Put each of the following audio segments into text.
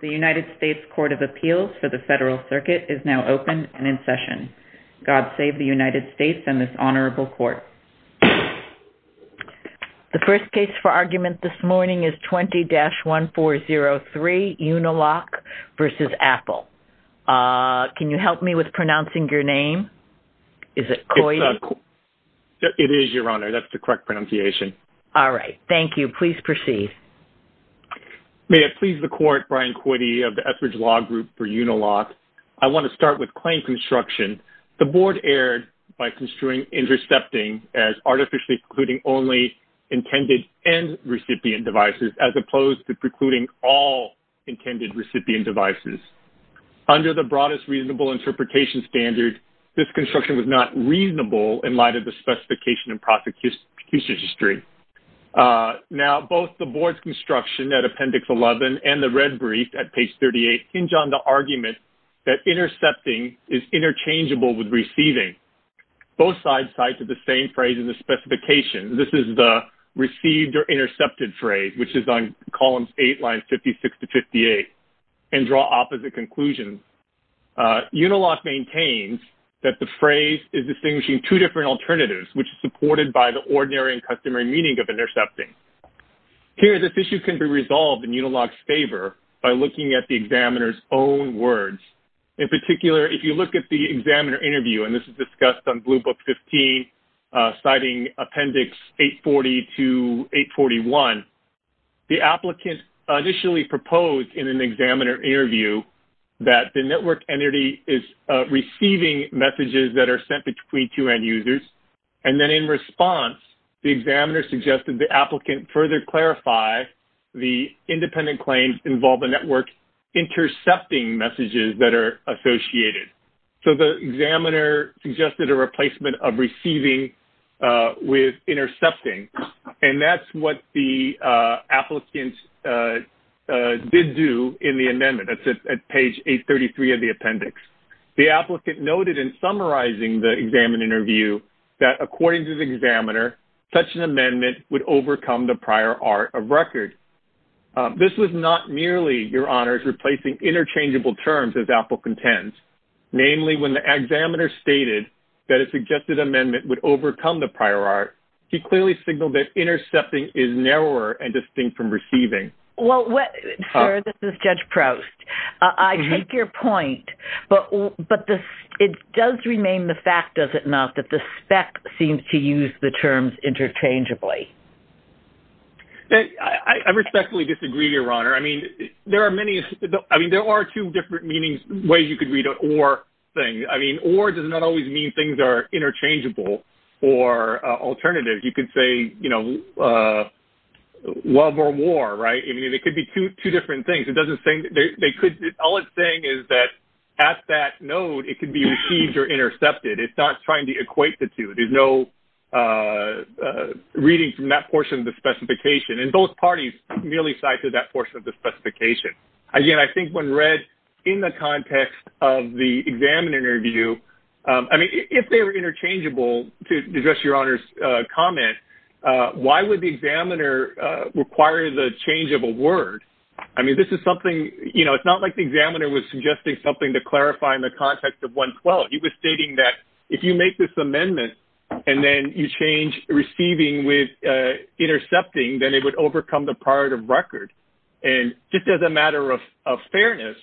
The United States Court of Appeals for the Federal Circuit is now open and in session. God save the United States and this honorable court. The first case for argument this morning is 20-1403 Uniloc v. Apple. Can you help me with pronouncing your name? Is it Coide? It is your honor, that's the correct pronunciation. All right, thank you. Please proceed. May it please the court, Brian Coide of the Etheridge Law Group for Uniloc. I want to start with claim construction. The board erred by construing intercepting as artificially precluding only intended and recipient devices as opposed to precluding all intended recipient devices. Under the broadest reasonable interpretation standard, this construction was not reasonable in light of the specification and prosecution history. Now both the board's construction at appendix 11 and the red brief at page 38 hinge on the argument that intercepting is interchangeable with receiving. Both sides cite to the same phrase in the specification. This is the received or intercepted phrase which is on columns 8 lines 56 to 58 and draw opposite conclusions. Uniloc maintains that the ordinary and customary meaning of intercepting. Here this issue can be resolved in Uniloc's favor by looking at the examiner's own words. In particular, if you look at the examiner interview and this is discussed on blue book 15 citing appendix 840 to 841, the applicant initially proposed in an examiner interview that the network entity is receiving messages that are sent between CQN users and then in response the examiner suggested the applicant further clarify the independent claims involve the network intercepting messages that are associated. So the examiner suggested a replacement of receiving with intercepting and that's what the applicant did do in the amendment. That's at page 833 of the appendix. The applicant noted in interview that according to the examiner such an amendment would overcome the prior art of record. This was not merely, your honors, replacing interchangeable terms as applicant tends. Namely, when the examiner stated that a suggested amendment would overcome the prior art, he clearly signaled that intercepting is narrower and distinct from receiving. Well, sir, this is Judge Proust. I take your point, but it does remain the fact, does it not, that the spec seems to use the terms interchangeably. I respectfully disagree, your honor. I mean, there are many, I mean, there are two different meanings, ways you could read an or thing. I mean, or does not always mean things are interchangeable or alternative. You could say, you know, love or war, right? I mean, it could be two different things. It doesn't say, they could, all it's saying is that at that node it could be received or intercepted. It's not trying to equate the two. There's no reading from that portion of the specification and both parties merely cite to that portion of the specification. Again, I think when read in the context of the examiner view, I mean, if they were interchangeable, to address your honors comment, why would the examiner require the change of a word? I mean, this is something, you know, it's not like the examiner was suggesting something to clarify in the context of 112. He was stating that if you make this amendment and then you change receiving with intercepting, then it would overcome the prior art of record. And just as a matter of fairness,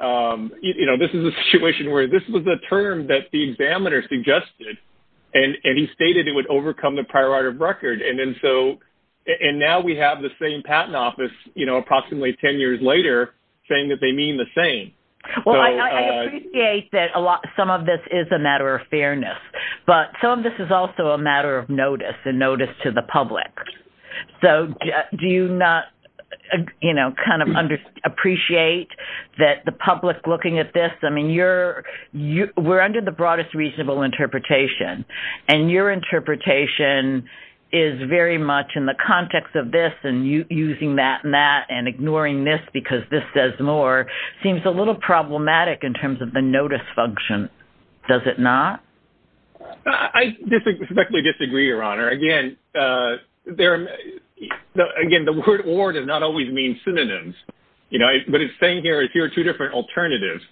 you know, this is a situation where this was the term that the examiner suggested and he stated it would overcome the prior art of record. And now we have the same patent office, you know, approximately 10 years later saying that they mean the same. Well, I appreciate that a lot, some of this is a matter of fairness, but some of this is also a matter of notice and notice to the public. So, do you not, you know, kind of appreciate that the public looking at this, I mean, you're, we're under the broadest reasonable interpretation and your interpretation is very much in the context of this and you using that and that and ignoring this because this says more, seems a little problematic in terms of the notice function, does it not? I respectfully disagree, your honor. Again, there, again, the word or does not always mean synonyms, you know, but it's saying here is here are two different alternatives.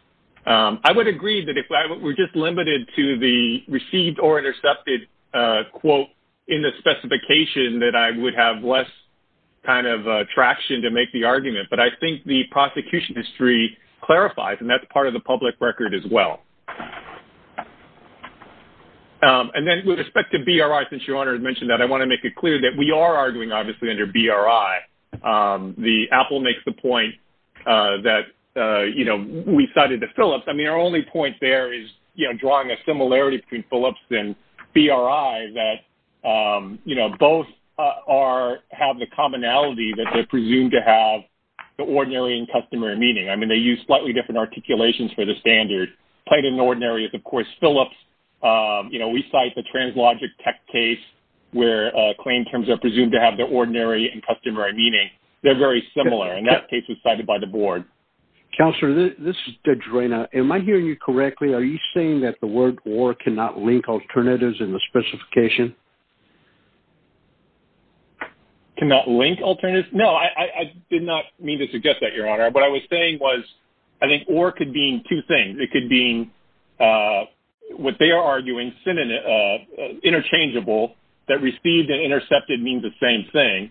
I would agree that if I were just limited to the received or intercepted quote in the specification that I would have less kind of traction to make the argument, but I think the prosecution history clarifies and that's part of the public record as well. And then with respect to BRI, since your honor has mentioned that, I want to make it clear that we are arguing obviously under BRI. The Apple makes the point that, you know, we cited the Phillips. I mean, our only point there is, you know, drawing a similarity between Phillips and BRI that, you know, both are, have the commonality that they're presumed to have the ordinary and customary meaning. I mean, they use slightly different articulations for the standard. Plain and ordinary is, of course, Phillips. You know, we cite the translogic tech case where claim terms are presumed to have the ordinary and customary meaning. They're very similar and that case was cited by the board. Counselor, this is Judge Reyna. Am I hearing you correctly? Are you saying that the word or cannot link alternatives in the specification? Cannot link alternatives? No, I did not mean to suggest that, your honor. What I was saying was I think or could mean two things. It could mean what they are arguing, interchangeable, that received and intercepted means the same thing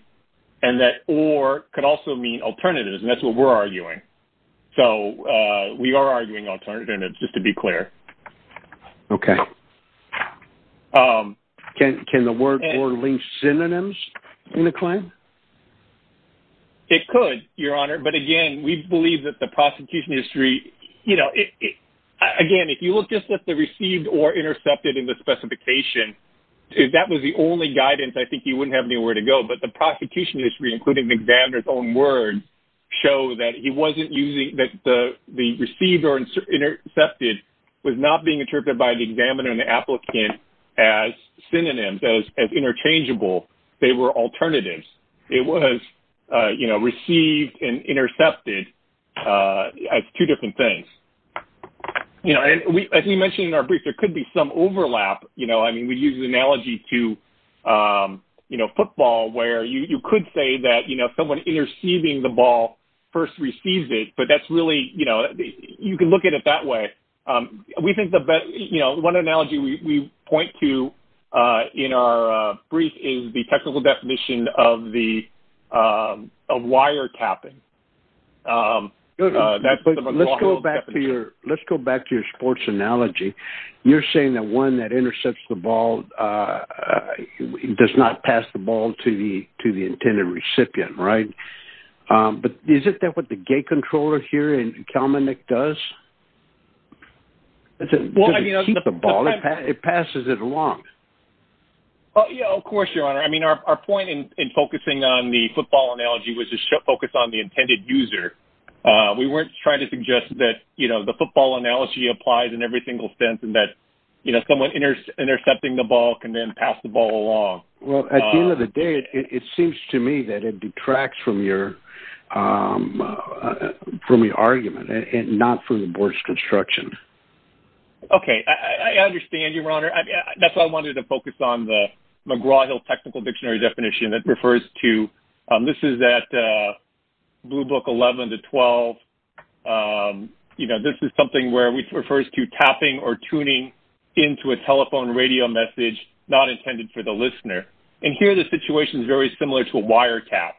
and that or could also mean alternatives and that's what we're arguing. So we are arguing alternatives, just to be clear. Okay. Can the word or link synonyms in the claim? It could, your honor. But again, we believe that the prosecution history, you know, again, if you look just at the received or intercepted in the specification, if that was the only guidance, I think you wouldn't have anywhere to go. But the prosecution history, including the examiner's own word, show that he wasn't using, that the received or intercepted was not being interpreted by the examiner and the applicant as synonyms, as interchangeable. They were alternatives. It was, you know, received and intercepted as two different things. You know, as we mentioned in our brief, there could be some overlap, you know. I mean, we use the analogy to, you know, a golf ball where you could say that, you know, someone interceiving the ball first receives it, but that's really, you know, you can look at it that way. We think the best, you know, one analogy we point to in our brief is the technical definition of the wiretapping. Let's go back to your sports analogy. You're saying that one that intercepts the ball does not pass the ball to the intended recipient, right? But is that what the gate controller here in Kalmanik does? It passes it along. Oh, yeah, of course, Your Honor. I mean, our point in focusing on the football analogy was to focus on the intended user. We weren't trying to suggest that, you know, the football analogy applies in every single sense and that, you know, someone intercepting the ball can then pass the ball along. Well, at the end of the day, it seems to me that it detracts from your argument and not from the board's construction. Okay. I understand, Your Honor. That's why I wanted to focus on the McGraw-Hill technical dictionary definition that refers to... This is at Blue Book 11 to 12. You know, this is something where it refers to tapping or tuning into a telephone radio message not intended for the listener. And here, the situation is very similar to a wiretap.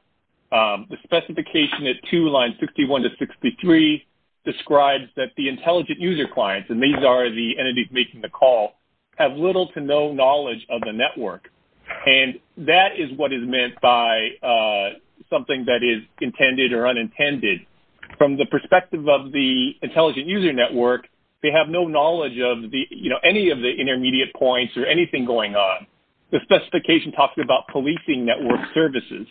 The specification at two lines, 61 to 63, describes that the intelligent user clients, and these are the entities making the call, have little to no knowledge of the network. And that is what is meant by something that is intended or unintended. From the perspective of the intelligent user network, they have no knowledge of the, you know, any of the intermediate points or anything going on. The specification talks about policing network services.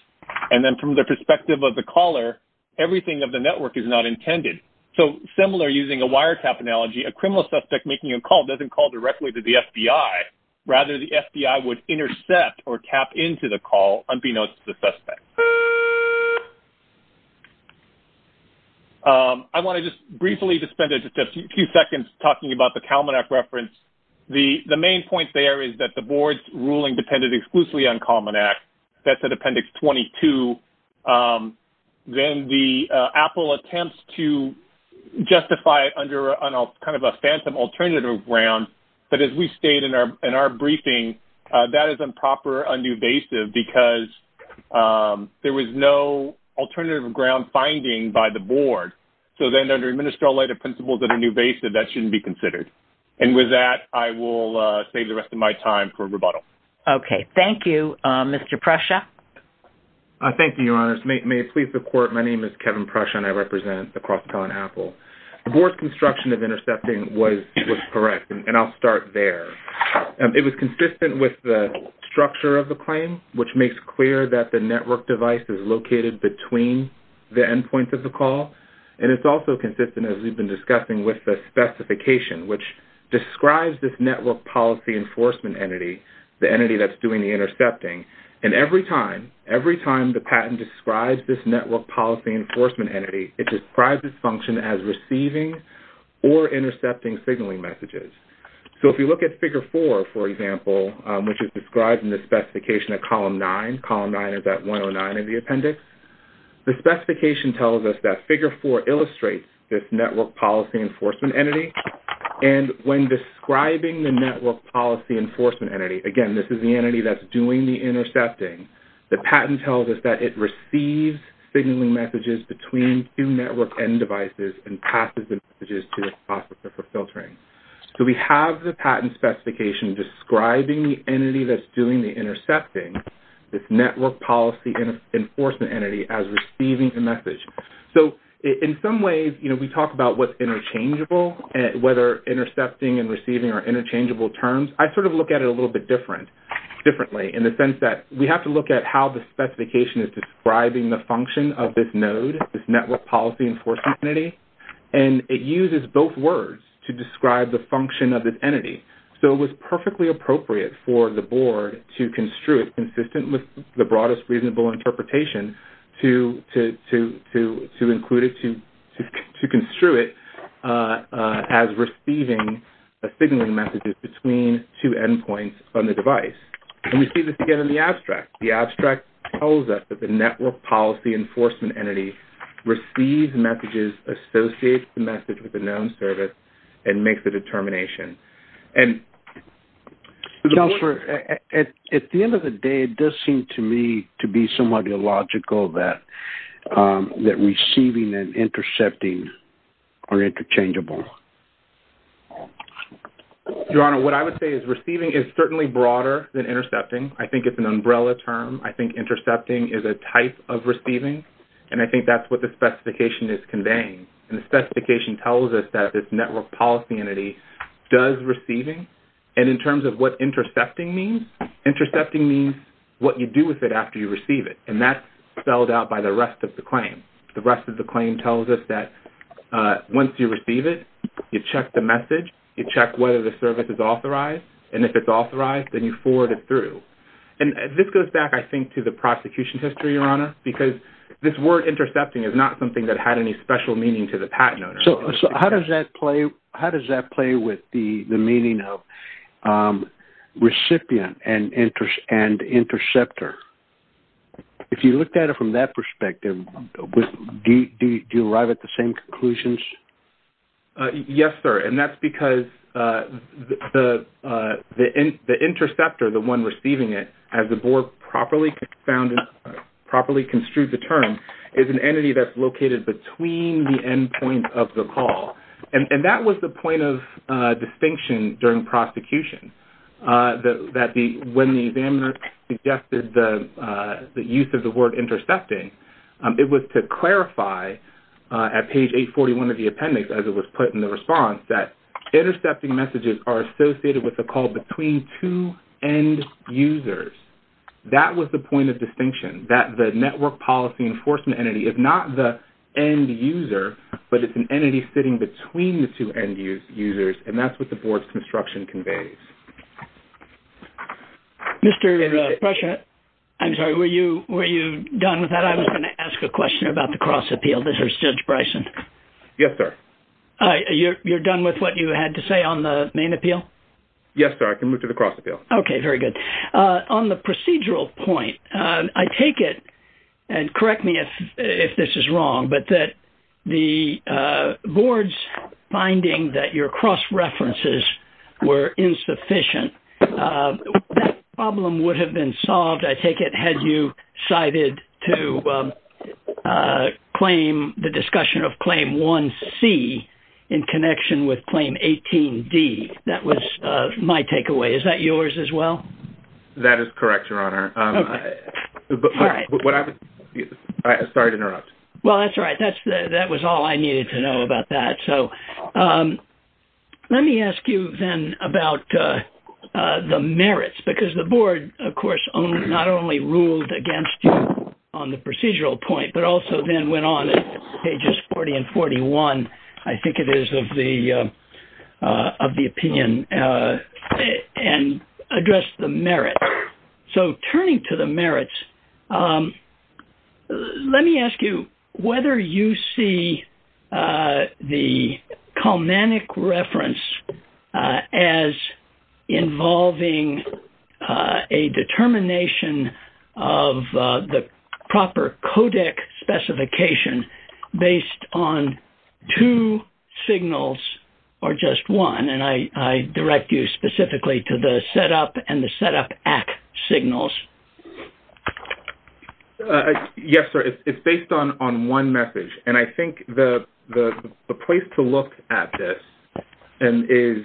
And then from the perspective of the caller, everything of the network is not intended. So similar, using a wiretap analogy, a criminal suspect making a call doesn't call directly to the FBI. Rather, the FBI would intercept or tap into the call unbeknownst to the suspect. I want to just briefly spend just a few seconds talking about the Kalman Act reference. The main point there is that the board's ruling depended exclusively on Kalman Act. That's at Appendix 22. Then the Apple attempts to justify it under kind of a phantom alternative ground. But as we state in our briefing, that is improper, un-invasive, because there was no alternative ground finding by the board. So then under administrative principles that are invasive, that shouldn't be considered. And with that, I will save the rest of my time for rebuttal. Okay. Thank you. Mr. Presha? Thank you, Your Honors. May it please the Court, my name is Kevin Presha, and I represent the Cross-Town Apple. The board's construction of intercepting was correct, and I'll start there. It was consistent with the structure of the claim, which makes clear that the network device is located between the endpoints of the call. And it's also consistent, as we've been discussing, with the specification, which describes this network policy enforcement entity, the entity that's doing the intercepting. And every time, every time the patent describes this network policy enforcement entity, it describes its function as receiving or intercepting signaling messages. So if you look at Figure 4, for example, which is described in the specification at Column 9, Column 9 is at 109 in the appendix, the specification tells us that Figure 4 illustrates this network policy enforcement entity. And when describing the network policy enforcement entity, again, this is the entity that's doing the intercepting, the patent tells us that it receives signaling messages between two network end devices and passes the messages to the processor for doing the intercepting, this network policy enforcement entity as receiving the message. So in some ways, you know, we talk about what's interchangeable, whether intercepting and receiving are interchangeable terms. I sort of look at it a little bit different, differently, in the sense that we have to look at how the specification is describing the function of this node, this network policy enforcement entity, and it uses both words to describe the function of this entity. So it was perfectly appropriate for the board to construe it consistent with the broadest reasonable interpretation to include it, to construe it as receiving signaling messages between two endpoints on the device. And we see this again in the abstract. The abstract tells us that the network policy enforcement entity receives messages, associates the message with the known service, and makes the determination. And... Kelser, at the end of the day, it does seem to me to be somewhat illogical that receiving and intercepting are interchangeable. Your Honor, what I would say is receiving is certainly broader than intercepting. I think it's an umbrella term. I think intercepting is a type of receiving, and I think that's what the specification is conveying. And the network policy entity does receiving, and in terms of what intercepting means, intercepting means what you do with it after you receive it, and that's spelled out by the rest of the claim. The rest of the claim tells us that once you receive it, you check the message, you check whether the service is authorized, and if it's authorized, then you forward it through. And this goes back, I think, to the prosecution history, Your Honor, because this word intercepting is not something that had any special meaning to the patent owner. How does that play with the meaning of recipient and interceptor? If you looked at it from that perspective, do you arrive at the same conclusions? Yes, sir, and that's because the interceptor, the one receiving it, as the board properly construed the term, is an entity that's located between the points of the call. And that was the point of distinction during prosecution, that when the examiner suggested the use of the word intercepting, it was to clarify at page 841 of the appendix, as it was put in the response, that intercepting messages are associated with a call between two end users. That was the point of distinction, that the network policy enforcement entity, if not the end user, but it's an entity sitting between the two end users, and that's what the board's construction conveys. Mr. Brescia, I'm sorry, were you done with that? I was going to ask a question about the cross appeal. This is Judge Bryson. Yes, sir. You're done with what you had to say on the main appeal? Yes, sir, I can move to the cross appeal. Okay, very good. On the procedural point, I take it, and correct me if this is wrong, but that the board's finding that your cross references were insufficient, that problem would have been solved, I take it, had you decided to claim the discussion of Claim 1C in connection with Claim 18D. That was my takeaway. Is that yours, as well? That is correct, Your Honor. All right. Sorry to interrupt. Well, that's all right. That was all I needed to know about that. So let me ask you then about the merits, because the board, of course, not only ruled against you on the procedural point, but also then went on, pages 40 and 41, I think it is, of the opinion and addressed the merit. So turning to the merits, let me ask you whether you see the Kalmanic reference as involving a determination of the proper codec specification based on two signals or just one. And I direct you specifically to the setup and the setup at signals. Yes, sir. It's based on one message. And I think the place to look at this is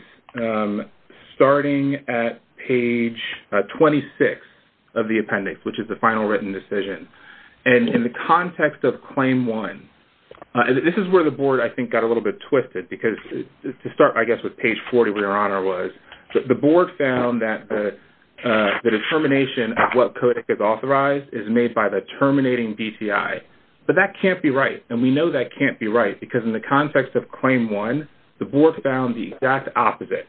starting at page 26 of the appendix, which is the final written decision. And in the context of Claim 1, this is where the board, I think, got a little bit twisted, because to start, I guess, with page 40, where Your Honor was, the board found that the determination of what codec is authorized is made by the terminating DTI. But that can't be right. And we know that can't be right, because in the context of Claim 1, the board found the exact opposite.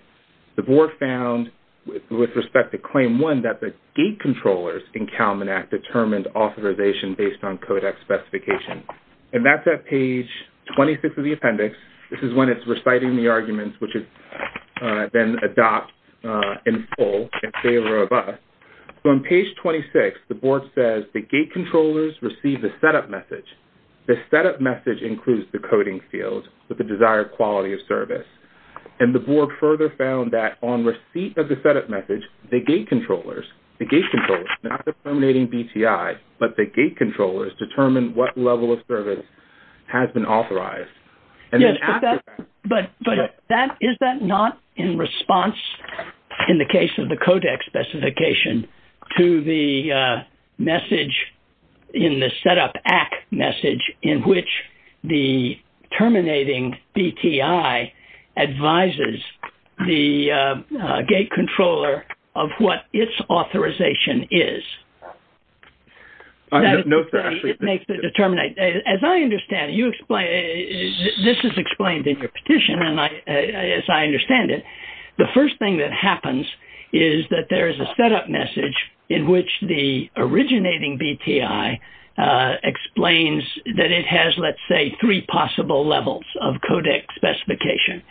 The board found, with respect to Claim 1, that the gate controllers in Kalman Act determined authorization based on codec specification. And that's at page 26 of the appendix. This is when it's reciting the arguments, which it then adopts in full in favor of us. So on page 26, the board says the gate controllers receive the setup message. The setup message includes the coding field with the desired quality of service. And the board further found that on receipt of the setup message, the gate controllers, the gate controllers, not the terminating DTI, but the gate controllers, determine what level of service has been authorized. And then after that... But is that not in response, in the case of the codec specification, to the message in the setup act message in which the terminating DTI advises the gate controller of what its authorization is? I don't know if that actually... It makes the determinate... As I understand it, this is explained in your petition, as I understand it. The first thing that happens is that there is a originating DTI explains that it has, let's say, three possible levels of codec specification.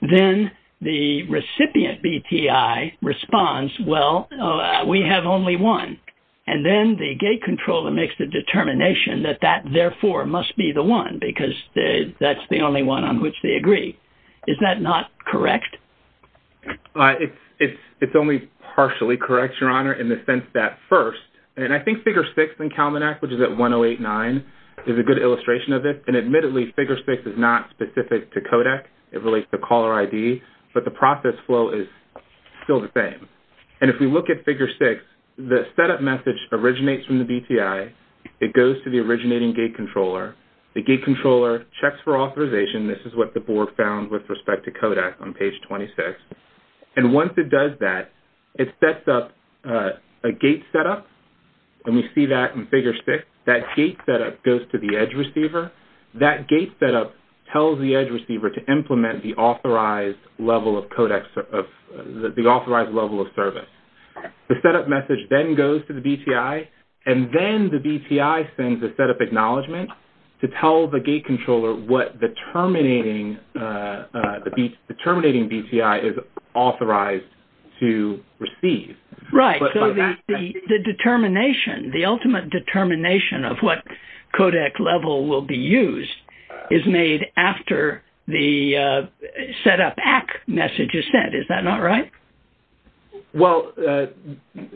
Then the recipient DTI responds, well, we have only one. And then the gate controller makes the determination that that therefore must be the one, because that's the only one on which they agree. Is that not correct? It's only partially correct, Your Honor, in the sense that first... And I think figure six in CalMANAC, which is at 1089, is a good illustration of this. And admittedly, figure six is not specific to codec. It relates to caller ID. But the process flow is still the same. And if we look at figure six, the setup message originates from the DTI. It goes to the originating gate controller. The gate controller checks for authorization. This is what the board found with respect to DTI 26. And once it does that, it sets up a gate setup. And we see that in figure six. That gate setup goes to the edge receiver. That gate setup tells the edge receiver to implement the authorized level of codec, the authorized level of service. The setup message then goes to the DTI. And then the DTI sends a setup to tell the gate controller what the terminating DTI is authorized to receive. Right. So the determination, the ultimate determination of what codec level will be used is made after the setup ACK message is sent. Is that not right? Well,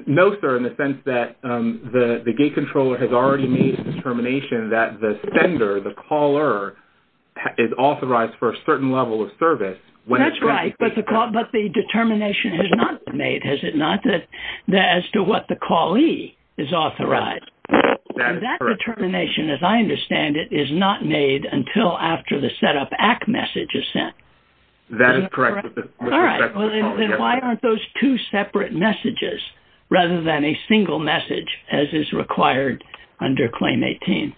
no sir, in the sense that the gate controller has already made the determination that the sender, the caller, is authorized for a certain level of service. That's right. But the determination is not made, is it not? As to what the callee is authorized. That determination, as I understand it, is not made until after the setup ACK message is sent. That is correct. All right. Well, why aren't those two separate messages rather than a single message as is required under Claim 18?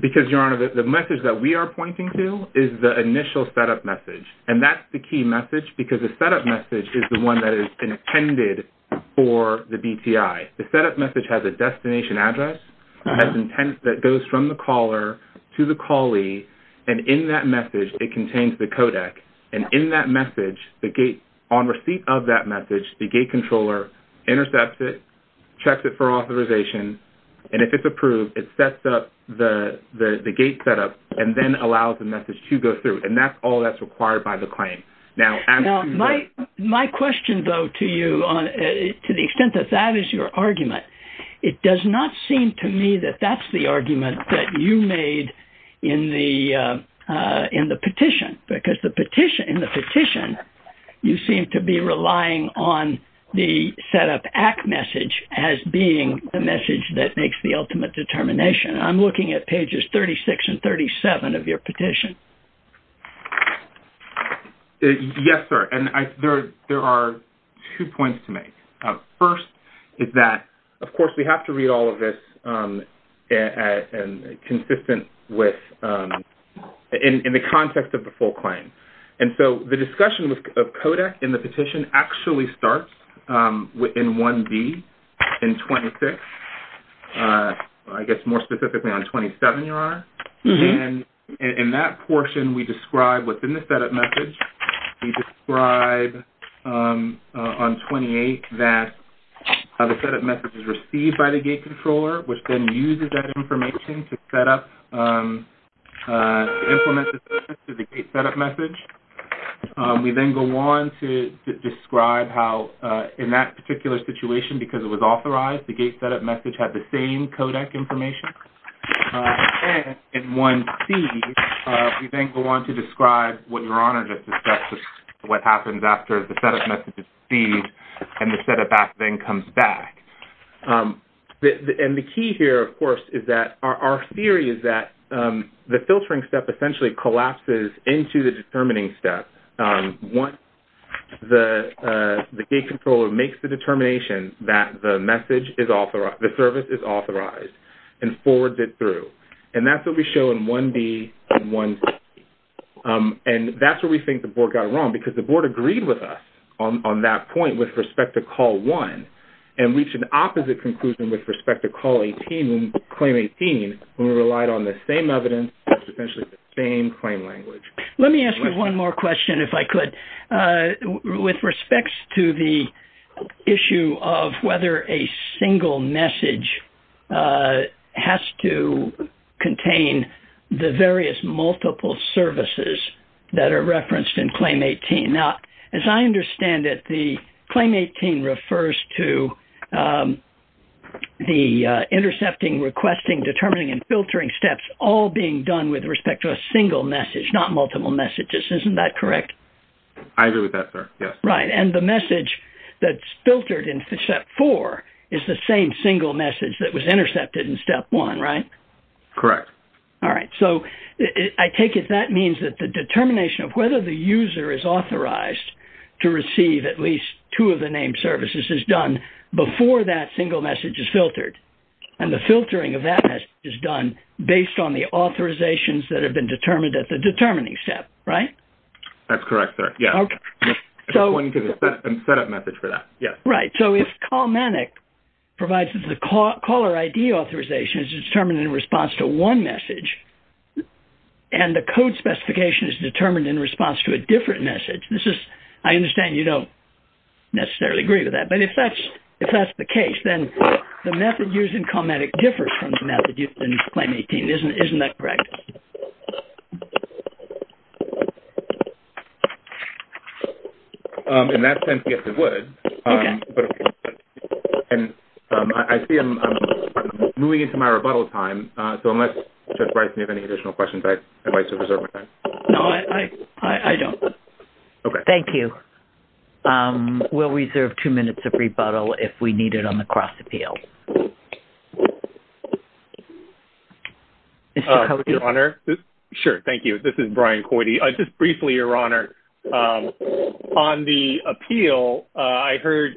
Because, Your Honor, the message that we are pointing to is the initial setup message. And that's the key message because the setup message is the one that is intended for the DTI. The setup message has a destination address that goes from the caller to the callee. And in that on receipt of that message, the gate controller intercepts it, checks it for authorization. And if it's approved, it sets up the gate setup and then allows the message to go through. And that's all that's required by the claim. Now, my question though to you, to the extent that that is your argument, it does not seem to me that that's the argument that you made in the petition. Because in the petition, you seem to be relying on the setup ACK message as being the message that makes the ultimate determination. I'm looking at pages 36 and 37 of your petition. Yes, sir. And there are two points to make. First is that, of course, we have to read all of this consistent with in the context of a full claim. And so the discussion of CODAC in the petition actually starts in 1B in 26, I guess more specifically on 27, Your Honor. And in that portion, we describe within the setup message, we describe on 28 that the setup message is received by the gate controller, which then uses that information to set up message. We then go on to describe how in that particular situation, because it was authorized, the gate setup message had the same CODAC information. And in 1C, we then go on to describe what Your Honor just discussed, what happens after the setup message is received and the setup ACK then comes back. And the key here, of course, is that our theory is that the filtering step essentially collapses into the determining step once the gate controller makes the determination that the message is authorized, the service is authorized, and forwards it through. And that's what we show in 1B and 1C. And that's where we think the board got wrong, because the board agreed with us on that point with respect to Call 1 and reached an opposite conclusion with respect to Claim 18, who relied on the same evidence, essentially the same claim language. Let me ask you one more question, if I could. With respect to the issue of whether a single message has to contain the various multiple services that are referenced in Claim 18. Now, as I understand it, the Claim 18 refers to the intercepting, requesting, determining, and filtering steps all being done with respect to a single message, not multiple messages. Isn't that correct? I agree with that, sir. Yes. Right. And the message that's filtered in Step 4 is the same single message that was intercepted in Step 1, right? Correct. All right. So I take it that means that the determination of whether the user is that single message is filtered, and the filtering of that message is done based on the authorizations that have been determined at the determining step, right? That's correct, sir. Yes. Okay. Just pointing to the setup message for that. Yes. Right. So if Callmanic provides the caller ID authorization, it's determined in response to one message, and the code specification is determined in response to a different message, I understand you don't necessarily agree with that, but if that's the case, then the method used in Callmanic differs from the method used in Claim 18. Isn't that correct? In that sense, yes, it would. And I see I'm moving into my rebuttal time, so unless Judge Bryce, you have any additional questions, I'd like to reserve my time. No, I don't. Okay. Thank you. We'll reserve two minutes of rebuttal if we need it on the cross-appeal. Mr. Coyde. Your Honor. Sure. Thank you. This is Brian Coyde. Just briefly, Your Honor, on the appeal, I heard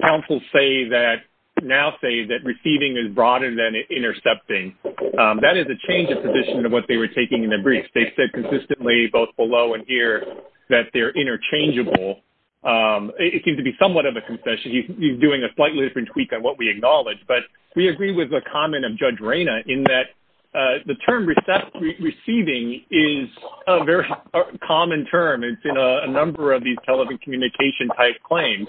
counsel say that-now say that receiving is broader than intercepting. That is a change in the position of what they were taking in their briefs. They said consistently, both below and here, that they're interchangeable. It seems to be somewhat of a concession. He's doing a slightly different tweak on what we acknowledge, but we agree with the comment of Judge Reyna in that the term receiving is a very common term. It's in a number of these telecommunication-type claims.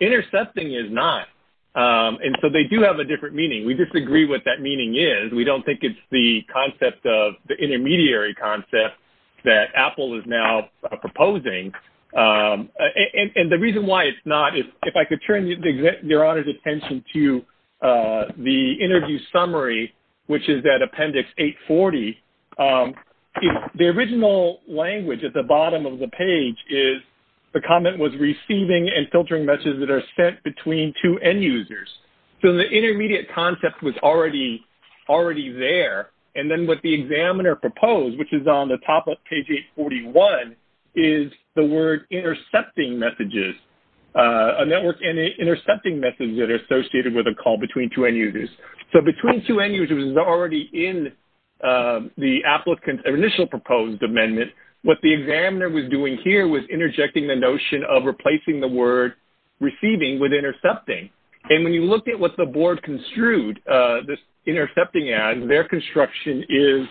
Intercepting is not. And so they do have a different meaning. We disagree what that meaning is. We don't think it's the concept of-the intermediary concept that Apple is now proposing. And the reason why it's not, if I could turn Your Honor's attention to the interview summary, which is that Appendix 840. The original language at the bottom of the page is the comment was receiving and filtering messages that are sent between two end users. So the intermediate concept was already there. And then what the examiner proposed, which is on the top of page 841, is the word intercepting messages-a network intercepting messages that are associated with a call between two end users. So between two end users is already in the applicant's initial proposed amendment. What the examiner was doing here was interjecting the notion of replacing the word receiving with intercepting. And when you look at what the board construed this intercepting as, their construction is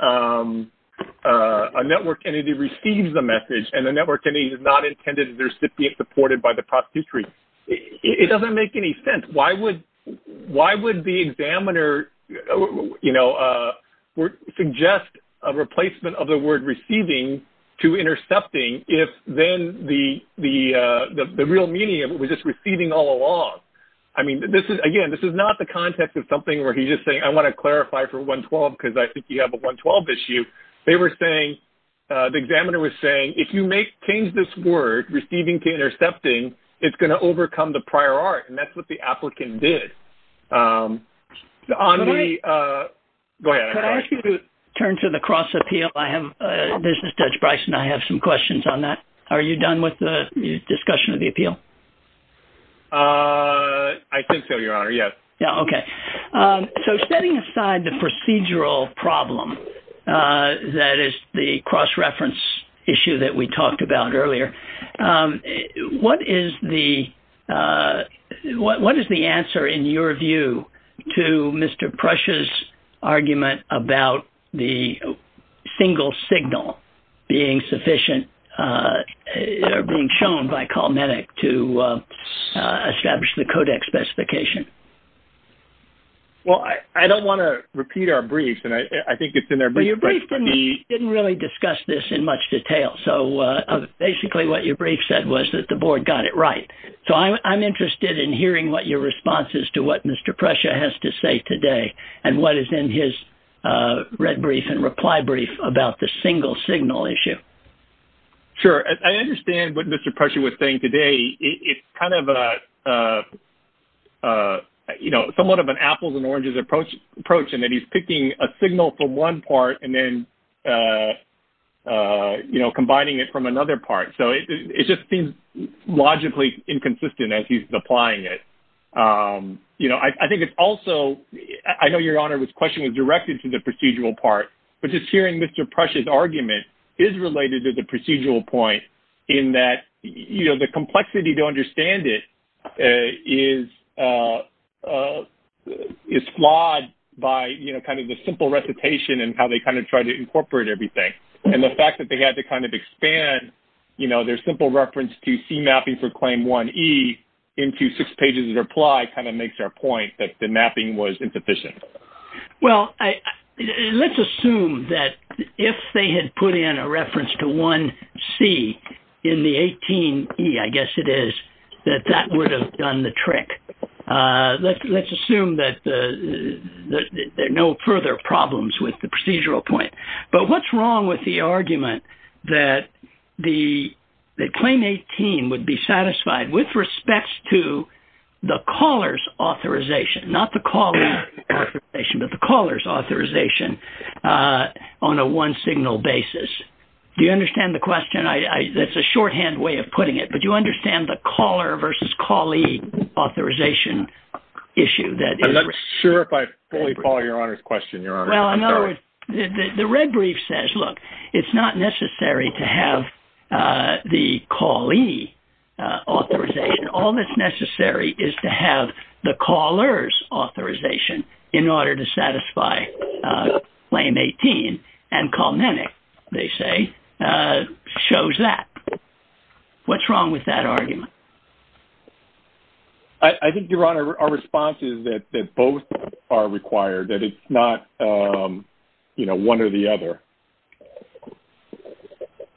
a network entity receives the message and the network entity is not intended to be supported by the prosecutor. It doesn't make any sense. Why would the examiner, you know, suggest a replacement of the word receiving to intercepting if then the real meaning of it was just receiving all along? I mean, again, this is not the context of something where he's just saying, I want to clarify for 112 because I think you have a 112 issue. They were saying, the examiner was saying, if you change this word, receiving to intercepting, it's going to overcome the prior art. And that's what the applicant did. Can I ask you to turn to the cross appeal? This is Judge Bryson. I have some questions on that. Are you done with the discussion of the appeal? I think so, your honor. Yes. Yeah. Okay. So setting aside the procedural problem, that is the cross reference issue that we talked about earlier. What is the, what is the answer in your view to Mr. Prush's argument about the single signal being sufficient or being shown by CalMedic to establish the codex specification? Well, I don't want to repeat our briefs and I think it's in there, but your brief didn't really discuss this in much detail. So basically what your brief said was that the board got it right. So I'm interested in hearing what your response is to what Mr. Prush has to say today and what is in his red brief and reply brief about the single signal issue. Sure. I understand what Mr. Prush was saying today. It's kind of, you know, somewhat of an apples and oranges approach and that he's picking a signal from one part and then, you know, combining it from another part. So it just seems logically inconsistent as he's applying it. You know, I think it's also, I know your honor, this question was directed to the procedural part, but just hearing Mr. Prush's argument is related to the procedural point in that, you know, the complexity to understand it is flawed by, you know, kind of the simple recitation and how they kind of try to incorporate everything. And the fact that they had to kind of expand, you know, their simple reference to C mapping for claim 1E into six pages of reply kind of makes our point that the mapping was insufficient. Well, let's assume that if they had put in a reference to 1C in the 18E, I guess it is, that that would have done the trick. Let's assume that there are no further problems with the procedural point. But what's wrong with the argument that claim 18 would be satisfied with respects to the caller's authorization, not the callee authorization, but the caller's authorization on a one-signal basis? Do you understand the question? That's a shorthand way of putting it, but you understand the caller versus callee authorization issue that... I'm not sure if I fully follow your honor's question, your honor. Well, in other words, the red brief says, look, it's not necessary to have the callee authorization. All that's necessary is to have the caller's authorization in order to satisfy claim 18. And Kalmanic, they say, shows that. What's wrong with that argument? I think, your honor, our response is that both are required, that it's not, you know, one or the other.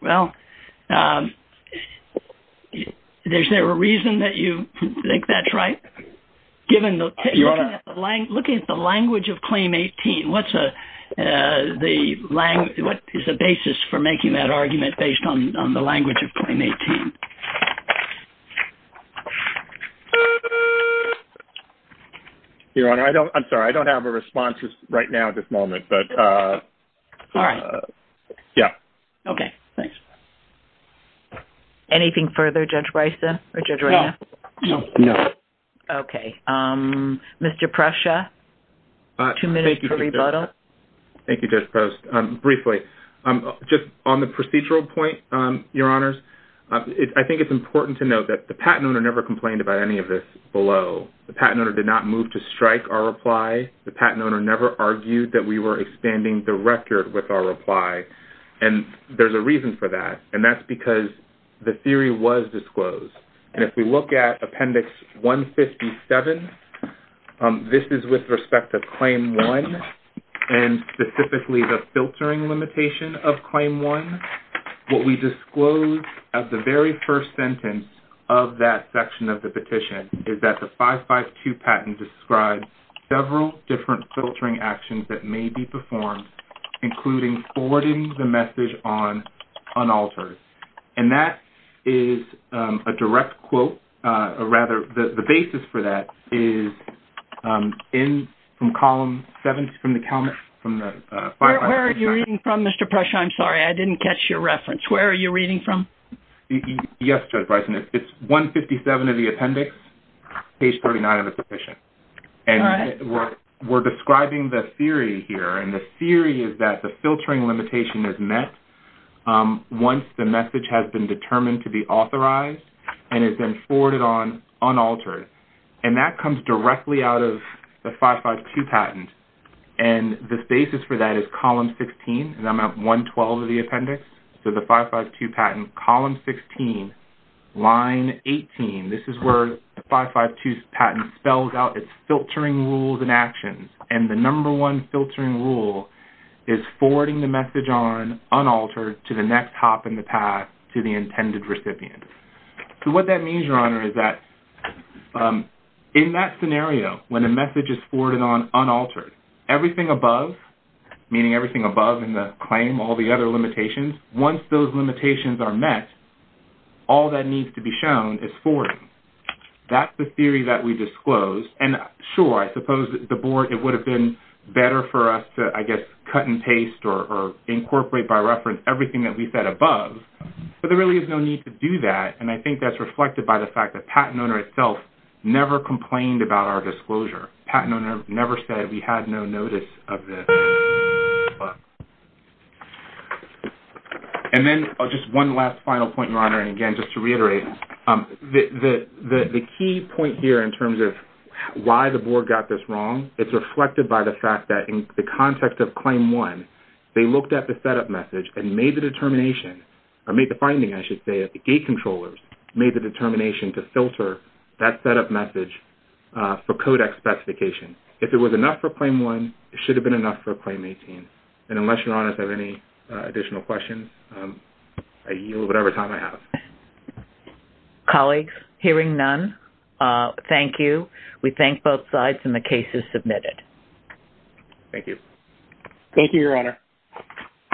Well, is there a reason that you think that's right? Looking at the language of claim 18, what is the basis for making that argument based on the language of claim 18? Your honor, I'm sorry, I don't have a response right now at this moment, but... All right. Yeah. Okay, thanks. Anything further, Judge Breisa or Judge Reina? No, no, no. Okay. Mr. Prussia, two minutes to rebuttal. Thank you, Judge Post. Briefly, just on the procedural point, your honors, I think it's important to note that the patent owner never complained about any of this below. The patent owner did not move to strike our reply. The the record with our reply. And there's a reason for that. And that's because the theory was disclosed. And if we look at appendix 157, this is with respect to claim one, and specifically the filtering limitation of claim one. What we disclosed at the very first sentence of that section of the petition is that the 552 patent describes several different filtering actions that may be performed, including forwarding the message on unaltered. And that is a direct quote, or rather the basis for that is in from column seven from the... Where are you reading from, Mr. Prussia? I'm sorry, I didn't catch your reference. Where are you reading from? Yes, Judge Breisa. It's 157 of the appendix, page 39 of the petition. And we're describing the theory here. And the theory is that the filtering limitation is met once the message has been determined to be authorized and has been forwarded on unaltered. And that comes directly out of the 552 patent. And the basis for that is column 16, 112 of the appendix. So the 552 patent, column 16, line 18. This is where the 552 patent spells out its filtering rules and actions. And the number one filtering rule is forwarding the message on unaltered to the next hop in the path to the intended recipient. So what that means, Your Honor, is that in that scenario, when a message is forwarded on unaltered, everything above, meaning everything above in the claim, all the other limitations, once those limitations are met, all that needs to be shown is forwarding. That's the theory that we disclosed. And sure, I suppose the board, it would have been better for us to, I guess, cut and paste or incorporate by reference everything that we said above. But there really is no need to do that. And I think that's reflected by the fact that patent owner itself never complained about our disclosure. Patent owner never said we had no notice of this. And then just one last final point, Your Honor. And again, just to reiterate, the key point here in terms of why the board got this wrong, it's reflected by the fact that in the context of Claim 1, they looked at the setup message and made the determination, or made the finding, I should say, of the gate controllers, made the determination to filter that setup message for codex specifications. If it was enough for Claim 1, it should have been enough for Claim 18. And unless Your Honor has any additional questions, I yield whatever time I have. Colleagues, hearing none, thank you. We thank both sides and the case is submitted. Thank you. Thank you, Your Honor.